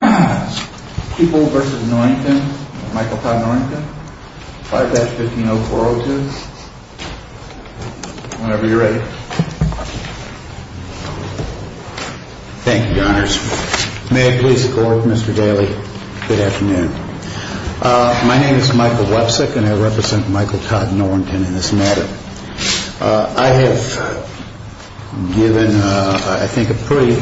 People v. Norrington. Michael Todd Norrington. 5-15-0402. Whenever you're ready. Thank you, Your Honors. May it please the Court, Mr. Daly. Good afternoon. My name is Michael Websick and I represent Michael Todd Norrington in this matter. I have given, I think, a pretty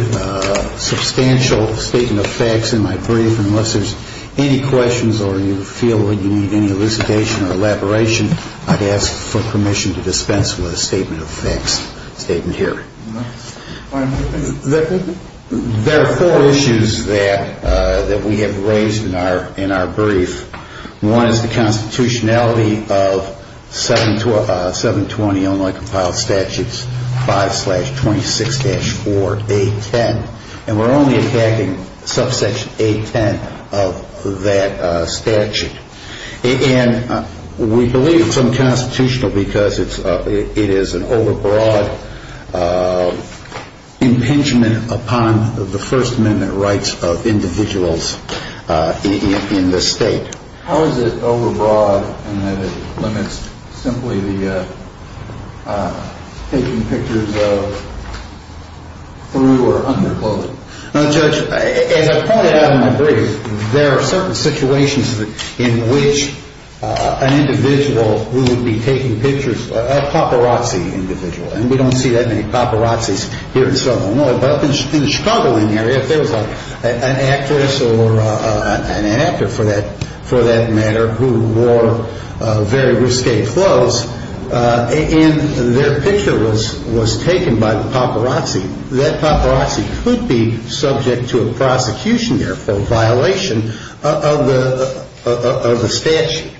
substantial statement of facts in my brief. Unless there's any questions or you feel that you need any elucidation or elaboration, I'd ask for permission to dispense with a statement of facts statement here. There are four issues that we have raised in our brief. One is the constitutionality of 720 only compiled statutes 5-26-4A10. And we're only attacking subsection A10 of that statute. And we believe it's unconstitutional because it is an overbroad impingement upon the First Amendment rights of individuals in this state. How is it overbroad in that it limits simply the taking pictures of through or under clothing? Now, Judge, as I pointed out in my brief, there are certain situations in which an individual who would be taking pictures, a paparazzi individual, and we don't see that many paparazzis here in Southern Illinois, but in the Chicago area, if there was an actress or an actor for that matter who wore very risque clothes and their picture was taken by the paparazzi, that paparazzi could be subject to a prosecution, therefore a violation of the statute.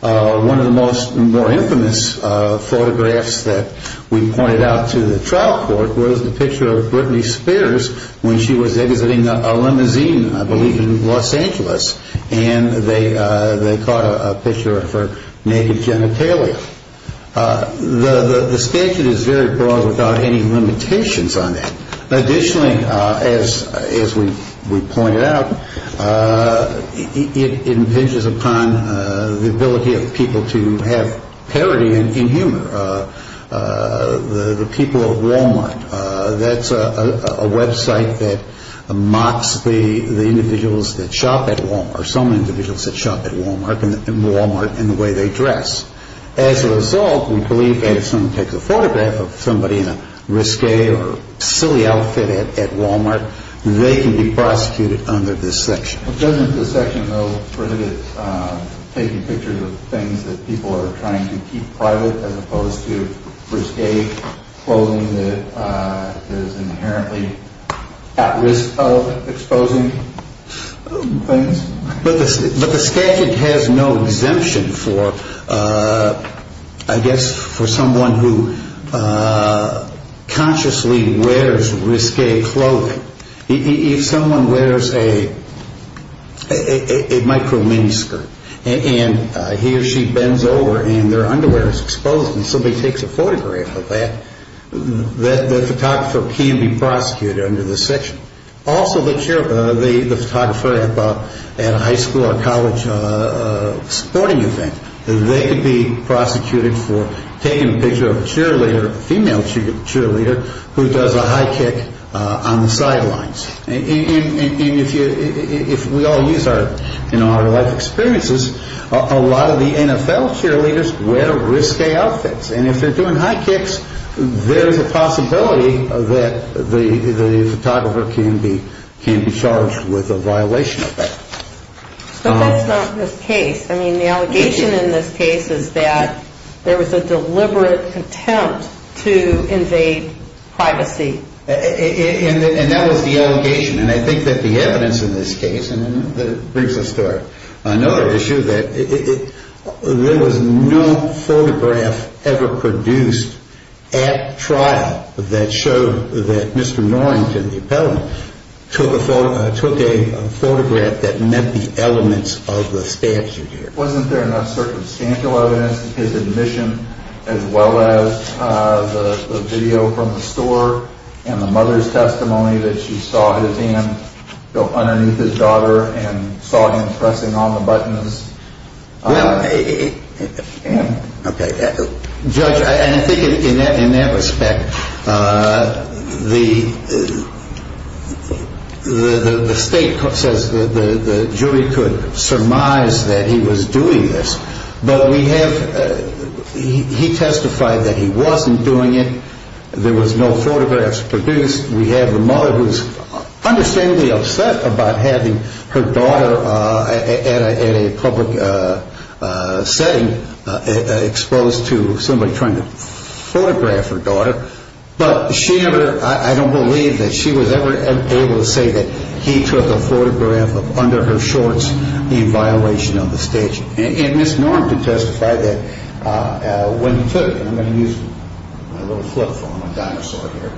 One of the most more infamous photographs that we pointed out to the trial court was the picture of Britney Spears when she was exiting a limousine, I believe in Los Angeles, and they caught a picture of her naked genitalia. The statute is very broad without any limitations on that. Additionally, as we pointed out, it impinges upon the ability of people to have parody and humor. The people of Walmart, that's a website that mocks the individuals that shop at Walmart or some individuals that shop at Walmart in the way they dress. As a result, we believe that if someone takes a photograph of somebody in a risque or silly outfit at Walmart, they can be prosecuted under this section. Doesn't the section, though, prohibit taking pictures of things that people are trying to keep private as opposed to risque clothing that is inherently at risk of exposing things? But the statute has no exemption for, I guess, for someone who consciously wears risque clothing. If someone wears a micro-mini skirt and he or she bends over and their underwear is exposed and somebody takes a photograph of that, the photographer can be prosecuted under this section. Also, the photographer at a high school or college sporting event, they could be prosecuted for taking a picture of a female cheerleader who does a high kick on the sidelines. If we all use our life experiences, a lot of the NFL cheerleaders wear risque outfits. And if they're doing high kicks, there's a possibility that the photographer can be charged with a violation of that. But that's not the case. I mean, the allegation in this case is that there was a deliberate attempt to invade privacy. And that was the allegation. And I think that the evidence in this case brings us to another issue, that there was no photograph ever produced at trial that showed that Mr. Norrington, the appellant, took a photograph that met the elements of the statute here. Wasn't there enough circumstantial evidence, his admission, as well as the video from the store and the mother's testimony that she saw his hand go underneath his daughter and saw him pressing all the buttons? Well, okay. Judge, I think in that respect, the state says the jury could surmise that he was doing this. But we have, he testified that he wasn't doing it. There was no photographs produced. We have the mother who's understandably upset about having her daughter at a public setting exposed to somebody trying to photograph her daughter. But she never, I don't believe that she was ever able to say that he took a photograph under her shorts in violation of the statute. And Ms. Norrington testified that when he took it, and I'm going to use my little flip phone, my dinosaur here,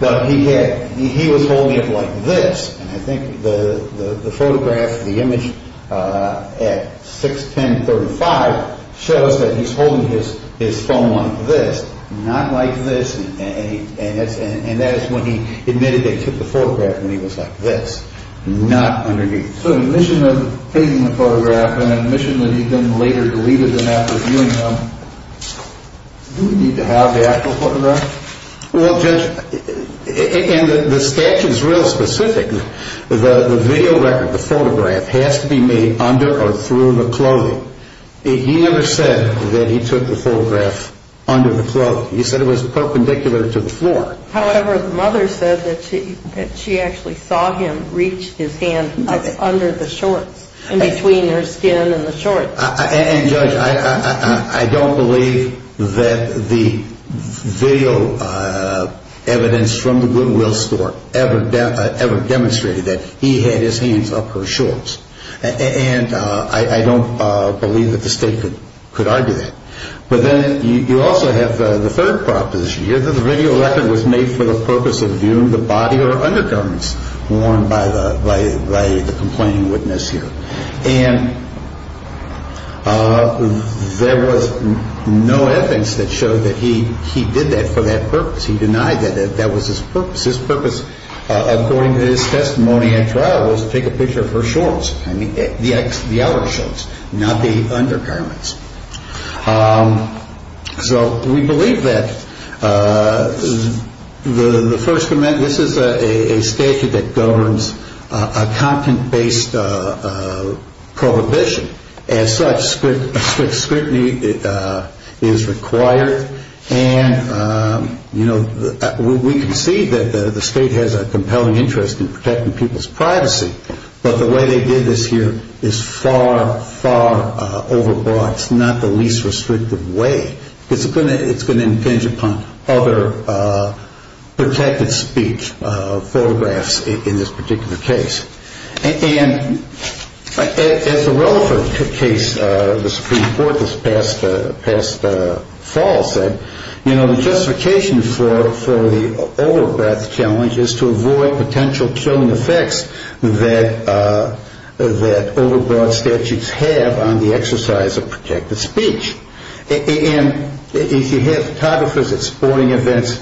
that he was holding it like this. And I think the photograph, the image at 6-10-35 shows that he's holding his phone like this, not like this. And that is when he admitted that he took the photograph when he was like this, not underneath. So admission of taking the photograph and admission that he then later deleted them after viewing them, do we need to have the actual photograph? Well, Judge, and the statute is real specific. The video record, the photograph, has to be made under or through the clothing. He never said that he took the photograph under the clothing. He said it was perpendicular to the floor. However, the mother said that she actually saw him reach his hand up under the shorts in between her skin and the shorts. And, Judge, I don't believe that the video evidence from the Goodwill store ever demonstrated that he had his hands up her shorts. And I don't believe that the state could argue that. But then you also have the third proposition. Either the video record was made for the purpose of viewing the body or undergarments worn by the complaining witness here. And there was no evidence that showed that he did that for that purpose. He denied that that was his purpose. His purpose, according to his testimony at trial, was to take a picture of her shorts, the outer shorts, not the undergarments. So we believe that this is a statute that governs a content-based prohibition. As such, strict scrutiny is required. And, you know, we can see that the state has a compelling interest in protecting people's privacy. But the way they did this here is far, far overbroad. It's not the least restrictive way. It's going to impinge upon other protected speech photographs in this particular case. And as a relevant case, the Supreme Court this past fall said, you know, the justification for the overbroad challenge is to avoid potential killing effects that overbroad statutes have on the exercise of protected speech. And if you have photographers at sporting events,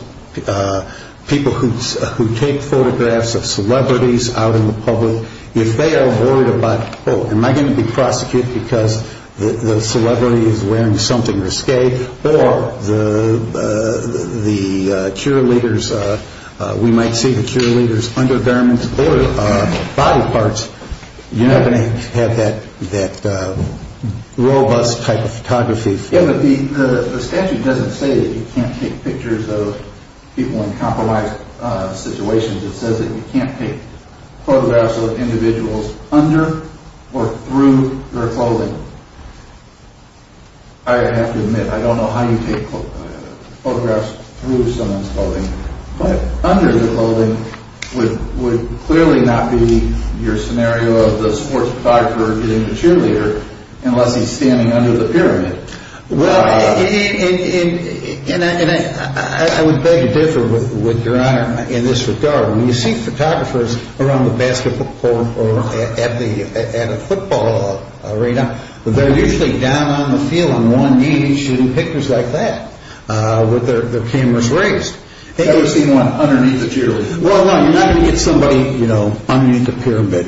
people who take photographs of celebrities out in the public, if they are worried about, oh, am I going to be prosecuted because the celebrity is wearing something risque, or the cheerleaders, we might see the cheerleaders' undergarments or body parts, you're not going to have that robust type of photography. Yeah, but the statute doesn't say that you can't take pictures of people in compromised situations. It says that you can't take photographs of individuals under or through their clothing. I have to admit, I don't know how you take photographs through someone's clothing. But under the clothing would clearly not be your scenario of the sports photographer getting the cheerleader, unless he's standing under the pyramid. Well, and I would beg to differ with your Honor in this regard. When you see photographers around the basketball court or at a football arena, they're usually down on the field on one knee shooting pictures like that with their cameras raised. I've never seen one underneath the pyramid. Well, no, you're not going to get somebody underneath the pyramid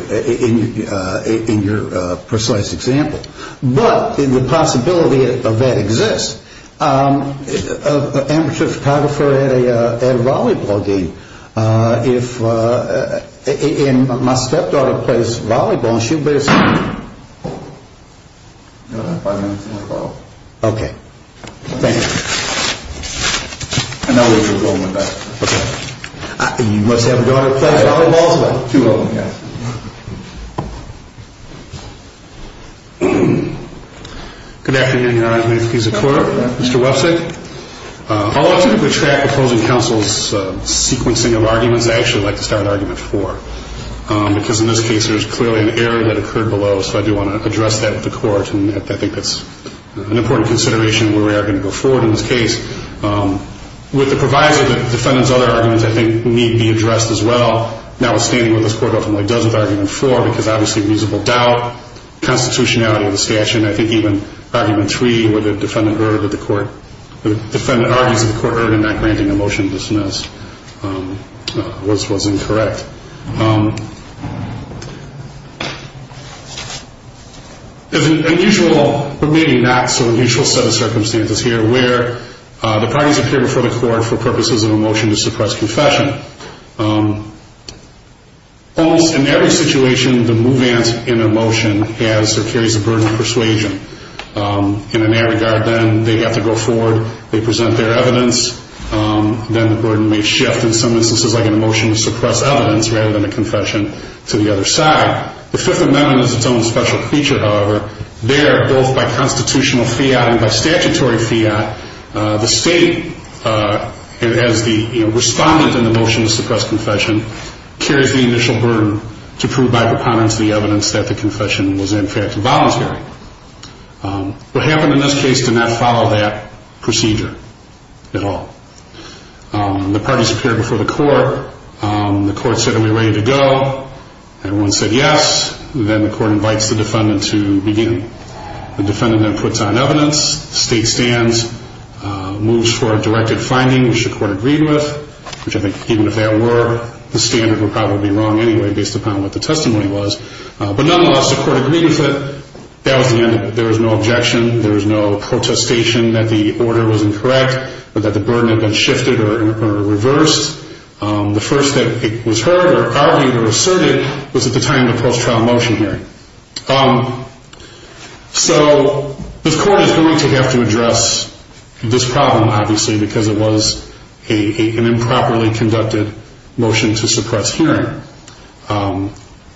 in your precise example. But the possibility of that exists. Amateur photographer at a volleyball game. If my stepdaughter plays volleyball, she'll be the same. Okay. Thank you. You must have a daughter who plays volleyball? Two of them, yes. Good afternoon, Your Honor. May it please the Court. Mr. Websick. Although I typically track opposing counsel's sequencing of arguments, I actually like to start argument four, because in this case there's clearly an error that occurred below, so I do want to address that with the Court. And I think that's an important consideration where we are going to go forward in this case. With the provisor, the defendant's other arguments, I think, need to be addressed as well. Now, withstanding what this Court ultimately does with argument four, because obviously reasonable doubt, constitutionality of the statute, and I think even argument three, where the defendant argues that the Court erred in not granting the motion dismissed, was incorrect. There's an unusual, but maybe not so unusual, set of circumstances here where the parties appear before the Court for purposes of a motion to suppress confession. Almost in every situation, the movement in a motion carries a burden of persuasion. In that regard, then, they have to go forward, they present their evidence, then the burden may shift in some instances like a motion to suppress evidence, rather than a confession to the other side. The Fifth Amendment is its own special feature, however. There, both by constitutional fiat and by statutory fiat, the State, as the respondent in the motion to suppress confession, carries the initial burden to prove by preponderance the evidence that the confession was in fact voluntary. What happened in this case did not follow that procedure at all. The parties appeared before the Court. The Court said, are we ready to go? Everyone said yes. Then the Court invites the defendant to begin. The defendant then puts on evidence, the State stands, moves for a directed finding, which the Court agreed with, which I think, even if that were the standard, would probably be wrong anyway based upon what the testimony was. But nonetheless, the Court agreed with it. That was the end of it. There was no objection. There was no protestation that the order was incorrect or that the burden had been shifted or reversed. The first that it was heard or argued or asserted was at the time of the post-trial motion hearing. So this Court is going to have to address this problem, obviously, because it was an improperly conducted motion to suppress hearing.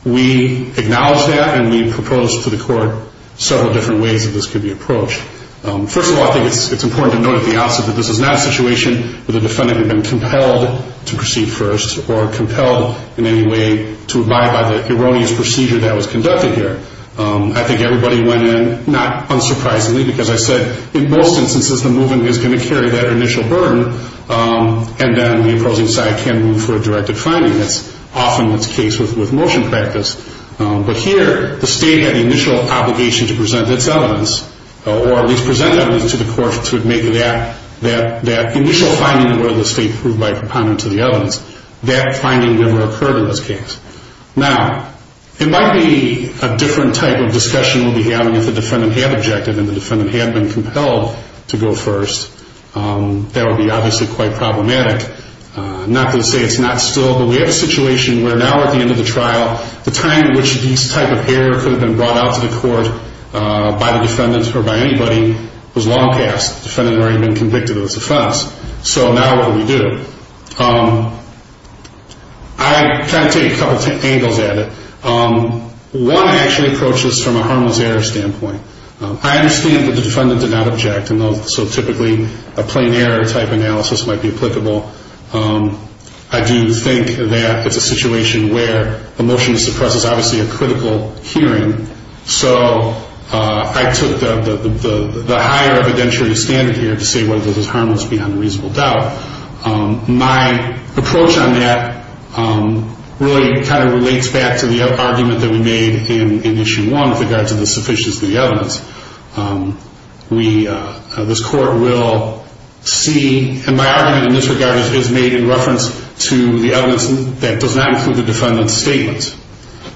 We acknowledge that and we proposed to the Court several different ways that this could be approached. First of all, I think it's important to note at the outset that this is not a situation where the defendant had been compelled to proceed first or compelled in any way to abide by the erroneous procedure that was conducted here. I think everybody went in, not unsurprisingly, because I said in most instances the movement is going to carry that initial burden and then the opposing side can move for a directed finding. That's often the case with motion practice. But here the State had the initial obligation to present its evidence or at least present evidence to the Court to make that initial finding where the State proved by compounding to the evidence that finding never occurred in this case. Now, it might be a different type of discussion we'll be having if the defendant had objected and the defendant had been compelled to go first. That would be obviously quite problematic. I'm not going to say it's not still, but we have a situation where now at the end of the trial, the time in which this type of error could have been brought out to the Court by the defendant or by anybody was long past. The defendant had already been convicted of its offense. So now what do we do? I'm trying to take a couple of angles at it. One actually approaches from a harmless error standpoint. I understand that the defendant did not object, and so typically a plain error type analysis might be applicable. I do think that it's a situation where a motion to suppress is obviously a critical hearing. So I took the higher evidentiary standard here to say whether this is harmless beyond reasonable doubt. My approach on that really kind of relates back to the argument that we made in Issue 1 with regard to the sufficiency of the evidence. This Court will see, and my argument in this regard is made in reference to the evidence that does not include the defendant's statements.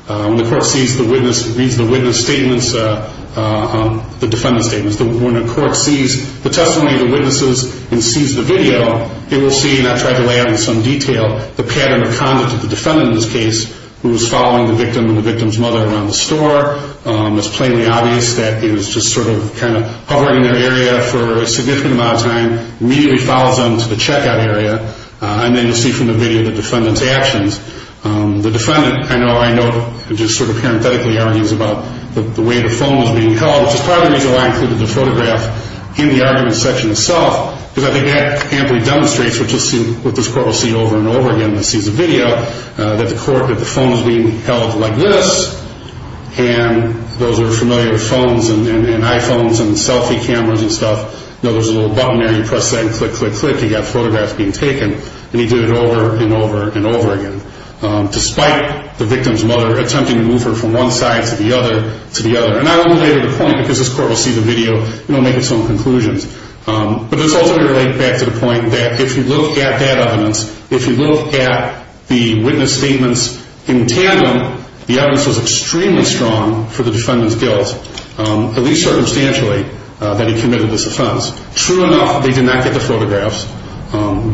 When the Court sees the witness statements, the defendant's statements, when the Court sees the testimony of the witnesses and sees the video, it will see, and I tried to lay out in some detail, the pattern of conduct of the defendant in this case who was following the victim and the victim's mother around the store. It's plainly obvious that he was just sort of kind of hovering in their area for a significant amount of time, immediately follows them to the checkout area, and then you'll see from the video the defendant's actions. The defendant, I know, just sort of parenthetically argues about the way the phone was being held, which is part of the reason why I included the photograph in the argument section itself, because I think that amply demonstrates, which this Court will see over and over again when it sees the video, that the court, that the phone was being held like this, and those are familiar phones and iPhones and selfie cameras and stuff. You know, there's a little button there, you press that and click, click, click, you've got photographs being taken, and he did it over and over and over again, despite the victim's mother attempting to move her from one side to the other, to the other. And I only made it a point because this Court will see the video and will make its own conclusions. But this also relates back to the point that if you look at that evidence, if you look at the witness statements in tandem, the evidence was extremely strong for the defendant's guilt, at least circumstantially, that he committed this offense. True enough, they did not get the photographs.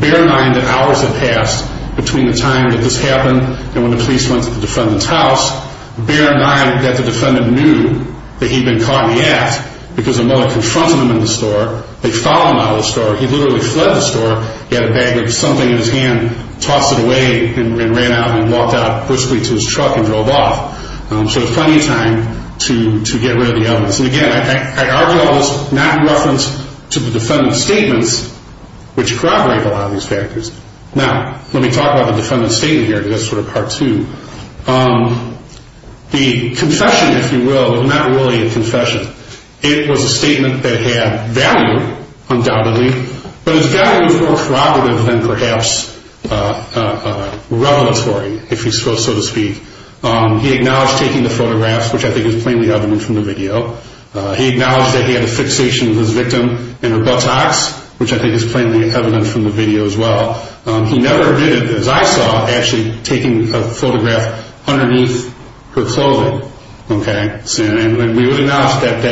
Bear in mind that hours had passed between the time that this happened and when the police went to the defendant's house. Bear in mind that the defendant knew that he'd been caught in the act because the mother confronted him in the store, they followed him out of the store, he literally fled the store, he had a bag of something in his hand, tossed it away and ran out and walked out briskly to his truck and drove off. So there was plenty of time to get rid of the evidence. And again, I argue all this not in reference to the defendant's statements, which corroborate a lot of these factors. Now, let me talk about the defendant's statement here, because that's sort of part two. The confession, if you will, was not really a confession. It was a statement that had value, undoubtedly, but its value was more corroborative than perhaps revelatory, if you will, so to speak. He acknowledged taking the photographs, which I think is plainly evident from the video. He acknowledged that he had a fixation with his victim in her buttocks, which I think is plainly evident from the video as well. He never admitted, as I saw, actually taking a photograph underneath her clothing. And we would acknowledge that the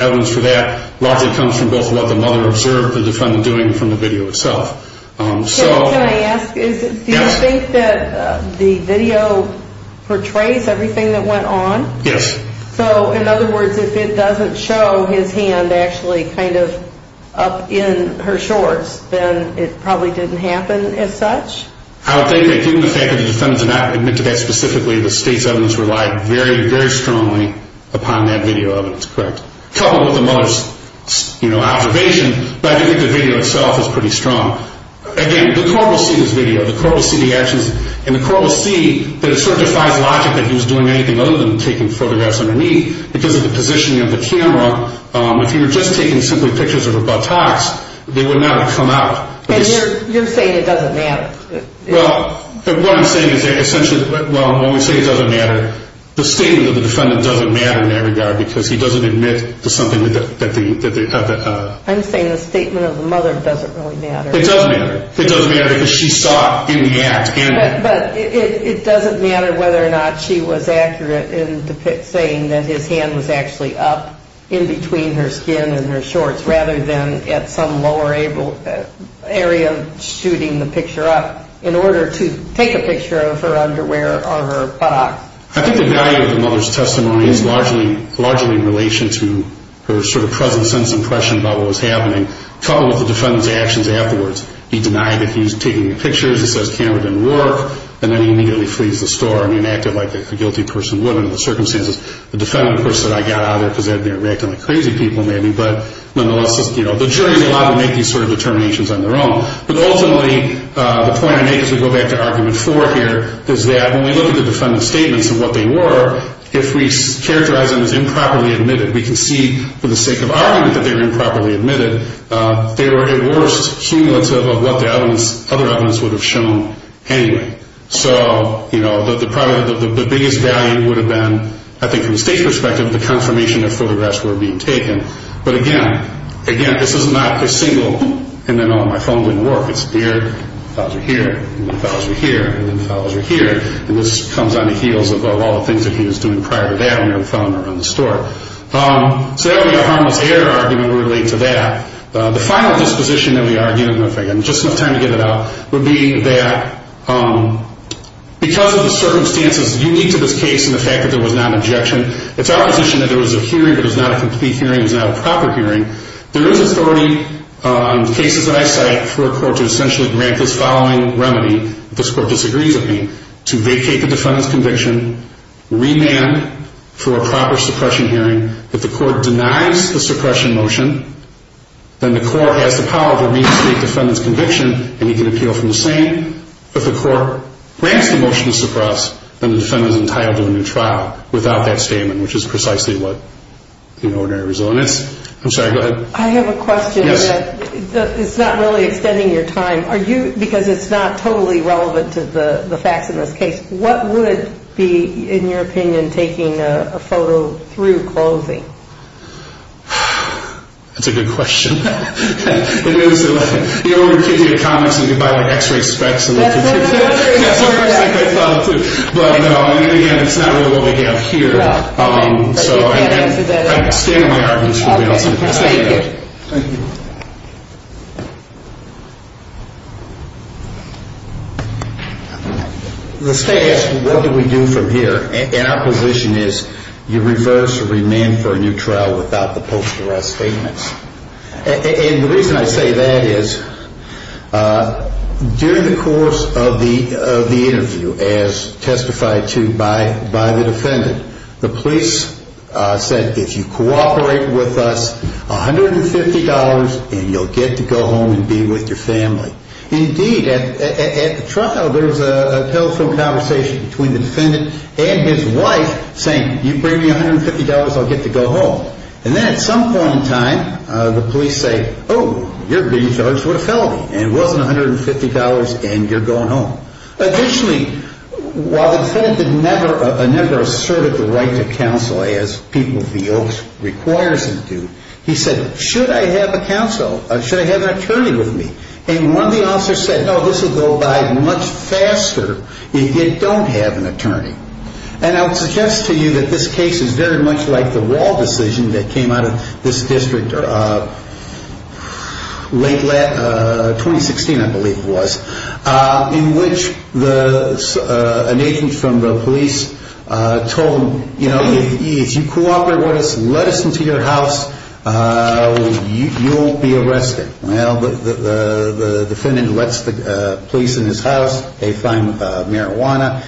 evidence for that largely comes from both what the mother observed the defendant doing and from the video itself. Can I ask, do you think that the video portrays everything that went on? Yes. So, in other words, if it doesn't show his hand actually kind of up in her shorts, then it probably didn't happen as such? I would think that given the fact that the defendant did not admit to that specifically, the state's evidence relied very, very strongly upon that video evidence. Correct. Coupled with the mother's observation, but I do think the video itself is pretty strong. Again, the court will see this video. The court will see the actions, and the court will see that it sort of defies logic that he was doing anything other than taking photographs underneath because of the positioning of the camera. If he were just taking simply pictures of her buttocks, they would not have come out. And you're saying it doesn't matter? Well, what I'm saying is that essentially, well, when we say it doesn't matter, the statement of the defendant doesn't matter in that regard because he doesn't admit to something that they have. I'm saying the statement of the mother doesn't really matter. It does matter. It does matter because she saw it in the act. But it doesn't matter whether or not she was accurate in saying that his hand was actually up in between her skin and her shorts rather than at some lower area shooting the picture up in order to take a picture of her underwear or her buttocks. I think the value of the mother's testimony is largely in relation to her sort of present sense impression about what was happening, coupled with the defendant's actions afterwards. He denied that he was taking the pictures. He says the camera didn't work, and then he immediately flees the store and he enacted like a guilty person would under the circumstances. The defendant, of course, said I got out of there because they were reacting like crazy people maybe. But nonetheless, the jury is allowed to make these sort of determinations on their own. But ultimately, the point I make as we go back to Argument 4 here is that when we look at the defendant's statements and what they were, if we characterize them as improperly admitted, we can see for the sake of argument that they were improperly admitted, they were at worst cumulative of what the other evidence would have shown anyway. So, you know, the biggest value would have been, I think from the state's perspective, the confirmation that photographs were being taken. But again, again, this is not a single, and then, oh, my phone wouldn't work. It's here, the files are here, and the files are here, and the files are here. And this comes on the heels of all the things that he was doing prior to that when he was filming around the store. So that would be a harmless error argument related to that. The final disposition that we argue, and just enough time to get it out, would be that because of the circumstances unique to this case and the fact that there was not an objection, it's our position that there was a hearing, but it was not a complete hearing, it was not a proper hearing. There is authority on cases that I cite for a court to essentially grant this following remedy, if this court disagrees with me, to vacate the defendant's conviction, remand for a proper suppression hearing. If the court denies the suppression motion, then the court has the power to restate the defendant's conviction, and he can appeal from the same. If the court grants the motion to suppress, then the defendant is entitled to a new trial without that statement, which is precisely what the ordinary result is. I'm sorry, go ahead. I have a question. Yes. It's not really extending your time. Are you, because it's not totally relevant to the facts in this case, what would be, in your opinion, taking a photo through clothing? That's a good question. It is. You know when we take you to comics and you buy, like, x-ray specs? That's what I thought, too. But, no, again, it's not really what we have here. So I'm standing my argument. Okay. Thank you. Thank you. The staff, what do we do from here? And our position is you reverse or remand for a new trial without the post-arrest statements. And the reason I say that is during the course of the interview, as testified to by the defendant, the police said, if you cooperate with us, $150, and you'll get to go home and be with your family. Indeed, at the trial, there was a telephone conversation between the defendant and his wife saying, you bring me $150, I'll get to go home. And then at some point in time, the police say, oh, you're being charged with a felony, and it wasn't $150, and you're going home. Additionally, while the defendant never asserted the right to counsel, as people of the oath requires them to, he said, should I have a counsel, should I have an attorney with me? And one of the officers said, no, this will go by much faster if you don't have an attorney. And I would suggest to you that this case is very much like the Wahl decision that came out of this district late 2016, I believe it was, in which an agent from the police told them, you know, if you cooperate with us and let us into your house, you'll be arrested. Well, the defendant lets the police in his house. They find marijuana.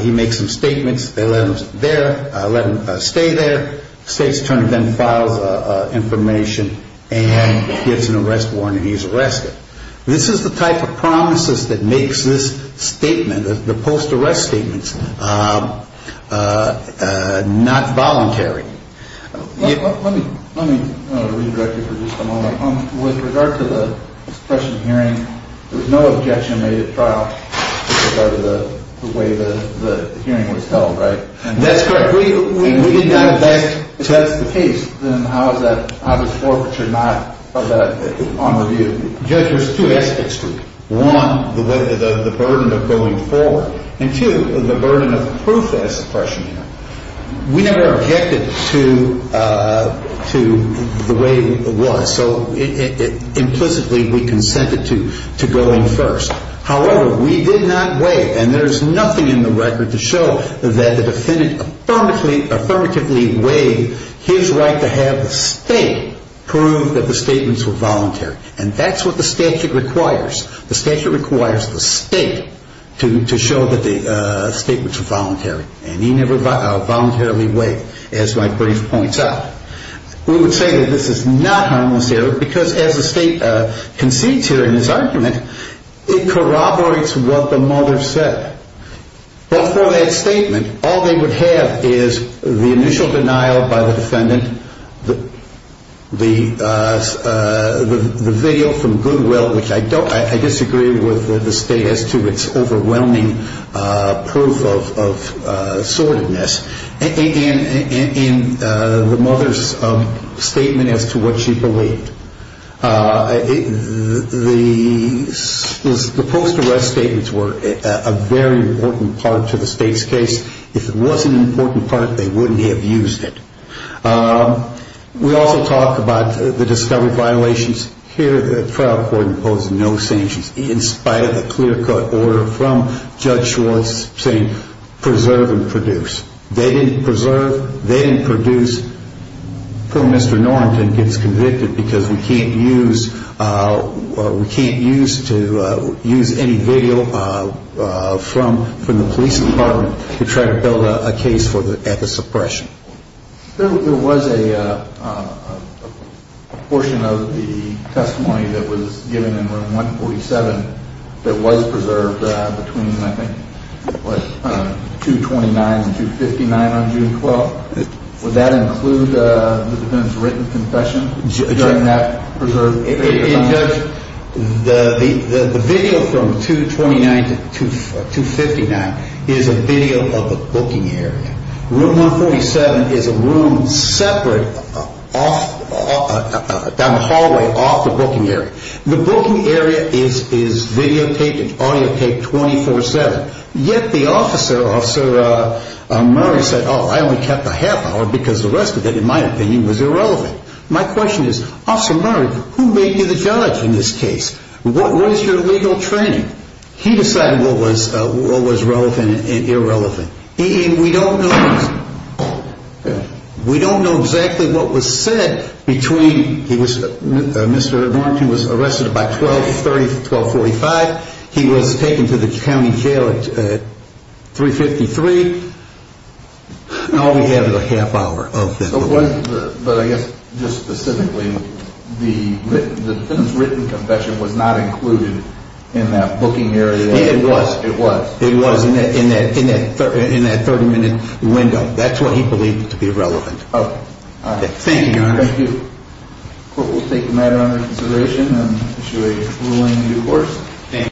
He makes some statements. They let him there, let him stay there. The state's attorney then files information and gets an arrest warrant, and he's arrested. This is the type of promises that makes this statement, the post-arrest statements, not voluntary. Let me redirect you for just a moment. With regard to the suppression hearing, there was no objection made at trial with regard to the way the hearing was held, right? That's correct. If that's the case, then how is that, how is forfeiture not on review? Judge, there's two aspects to it. One, the burden of going forward, and two, the burden of proof as suppression hearing. We never objected to the way it was, so implicitly we consented to going first. However, we did not waive, and there's nothing in the record to show that the defendant affirmatively waived his right to have the state prove that the statements were voluntary, and that's what the statute requires. The statute requires the state to show that the statements were voluntary, and he never voluntarily waived, as my brief points out. We would say that this is not harmless error, because as the state concedes here in his argument, it corroborates what the mother said. Before that statement, all they would have is the initial denial by the defendant, the video from Goodwill, which I disagree with the state as to its overwhelming proof of sordidness, and the mother's statement as to what she believed. The post-arrest statements were a very important part to the state's case. If it wasn't an important part, they wouldn't have used it. We also talked about the discovery violations. Here the trial court imposed no sanctions in spite of the clear-cut order from Judge Schwartz saying preserve and produce. They didn't preserve. They didn't produce. Mr. Norrington gets convicted because we can't use any video from the police department to try to build a case at the suppression. There was a portion of the testimony that was given in Room 147 that was preserved between, I think, 229 and 259 on June 12th. Would that include the defendant's written confession during that preserved video? The video from 229 to 259 is a video of a booking area. Room 147 is a room separate down the hallway off the booking area. The booking area is videotaped and audiotaped 24-7. Yet the officer, Officer Murray, said, Oh, I only kept a half hour because the rest of it, in my opinion, was irrelevant. My question is, Officer Murray, who made you the judge in this case? What was your legal training? He decided what was relevant and irrelevant. We don't know exactly what was said between, Mr. Norrington was arrested by 1230, 1245. He was taken to the county jail at 353. All we have is a half hour. But I guess just specifically, the defendant's written confession was not included in that booking area. It was. It was in that 30-minute window. That's what he believed to be relevant. Thank you, Your Honor. Thank you. The court will take the matter under consideration and issue a ruling in due course. Thank you.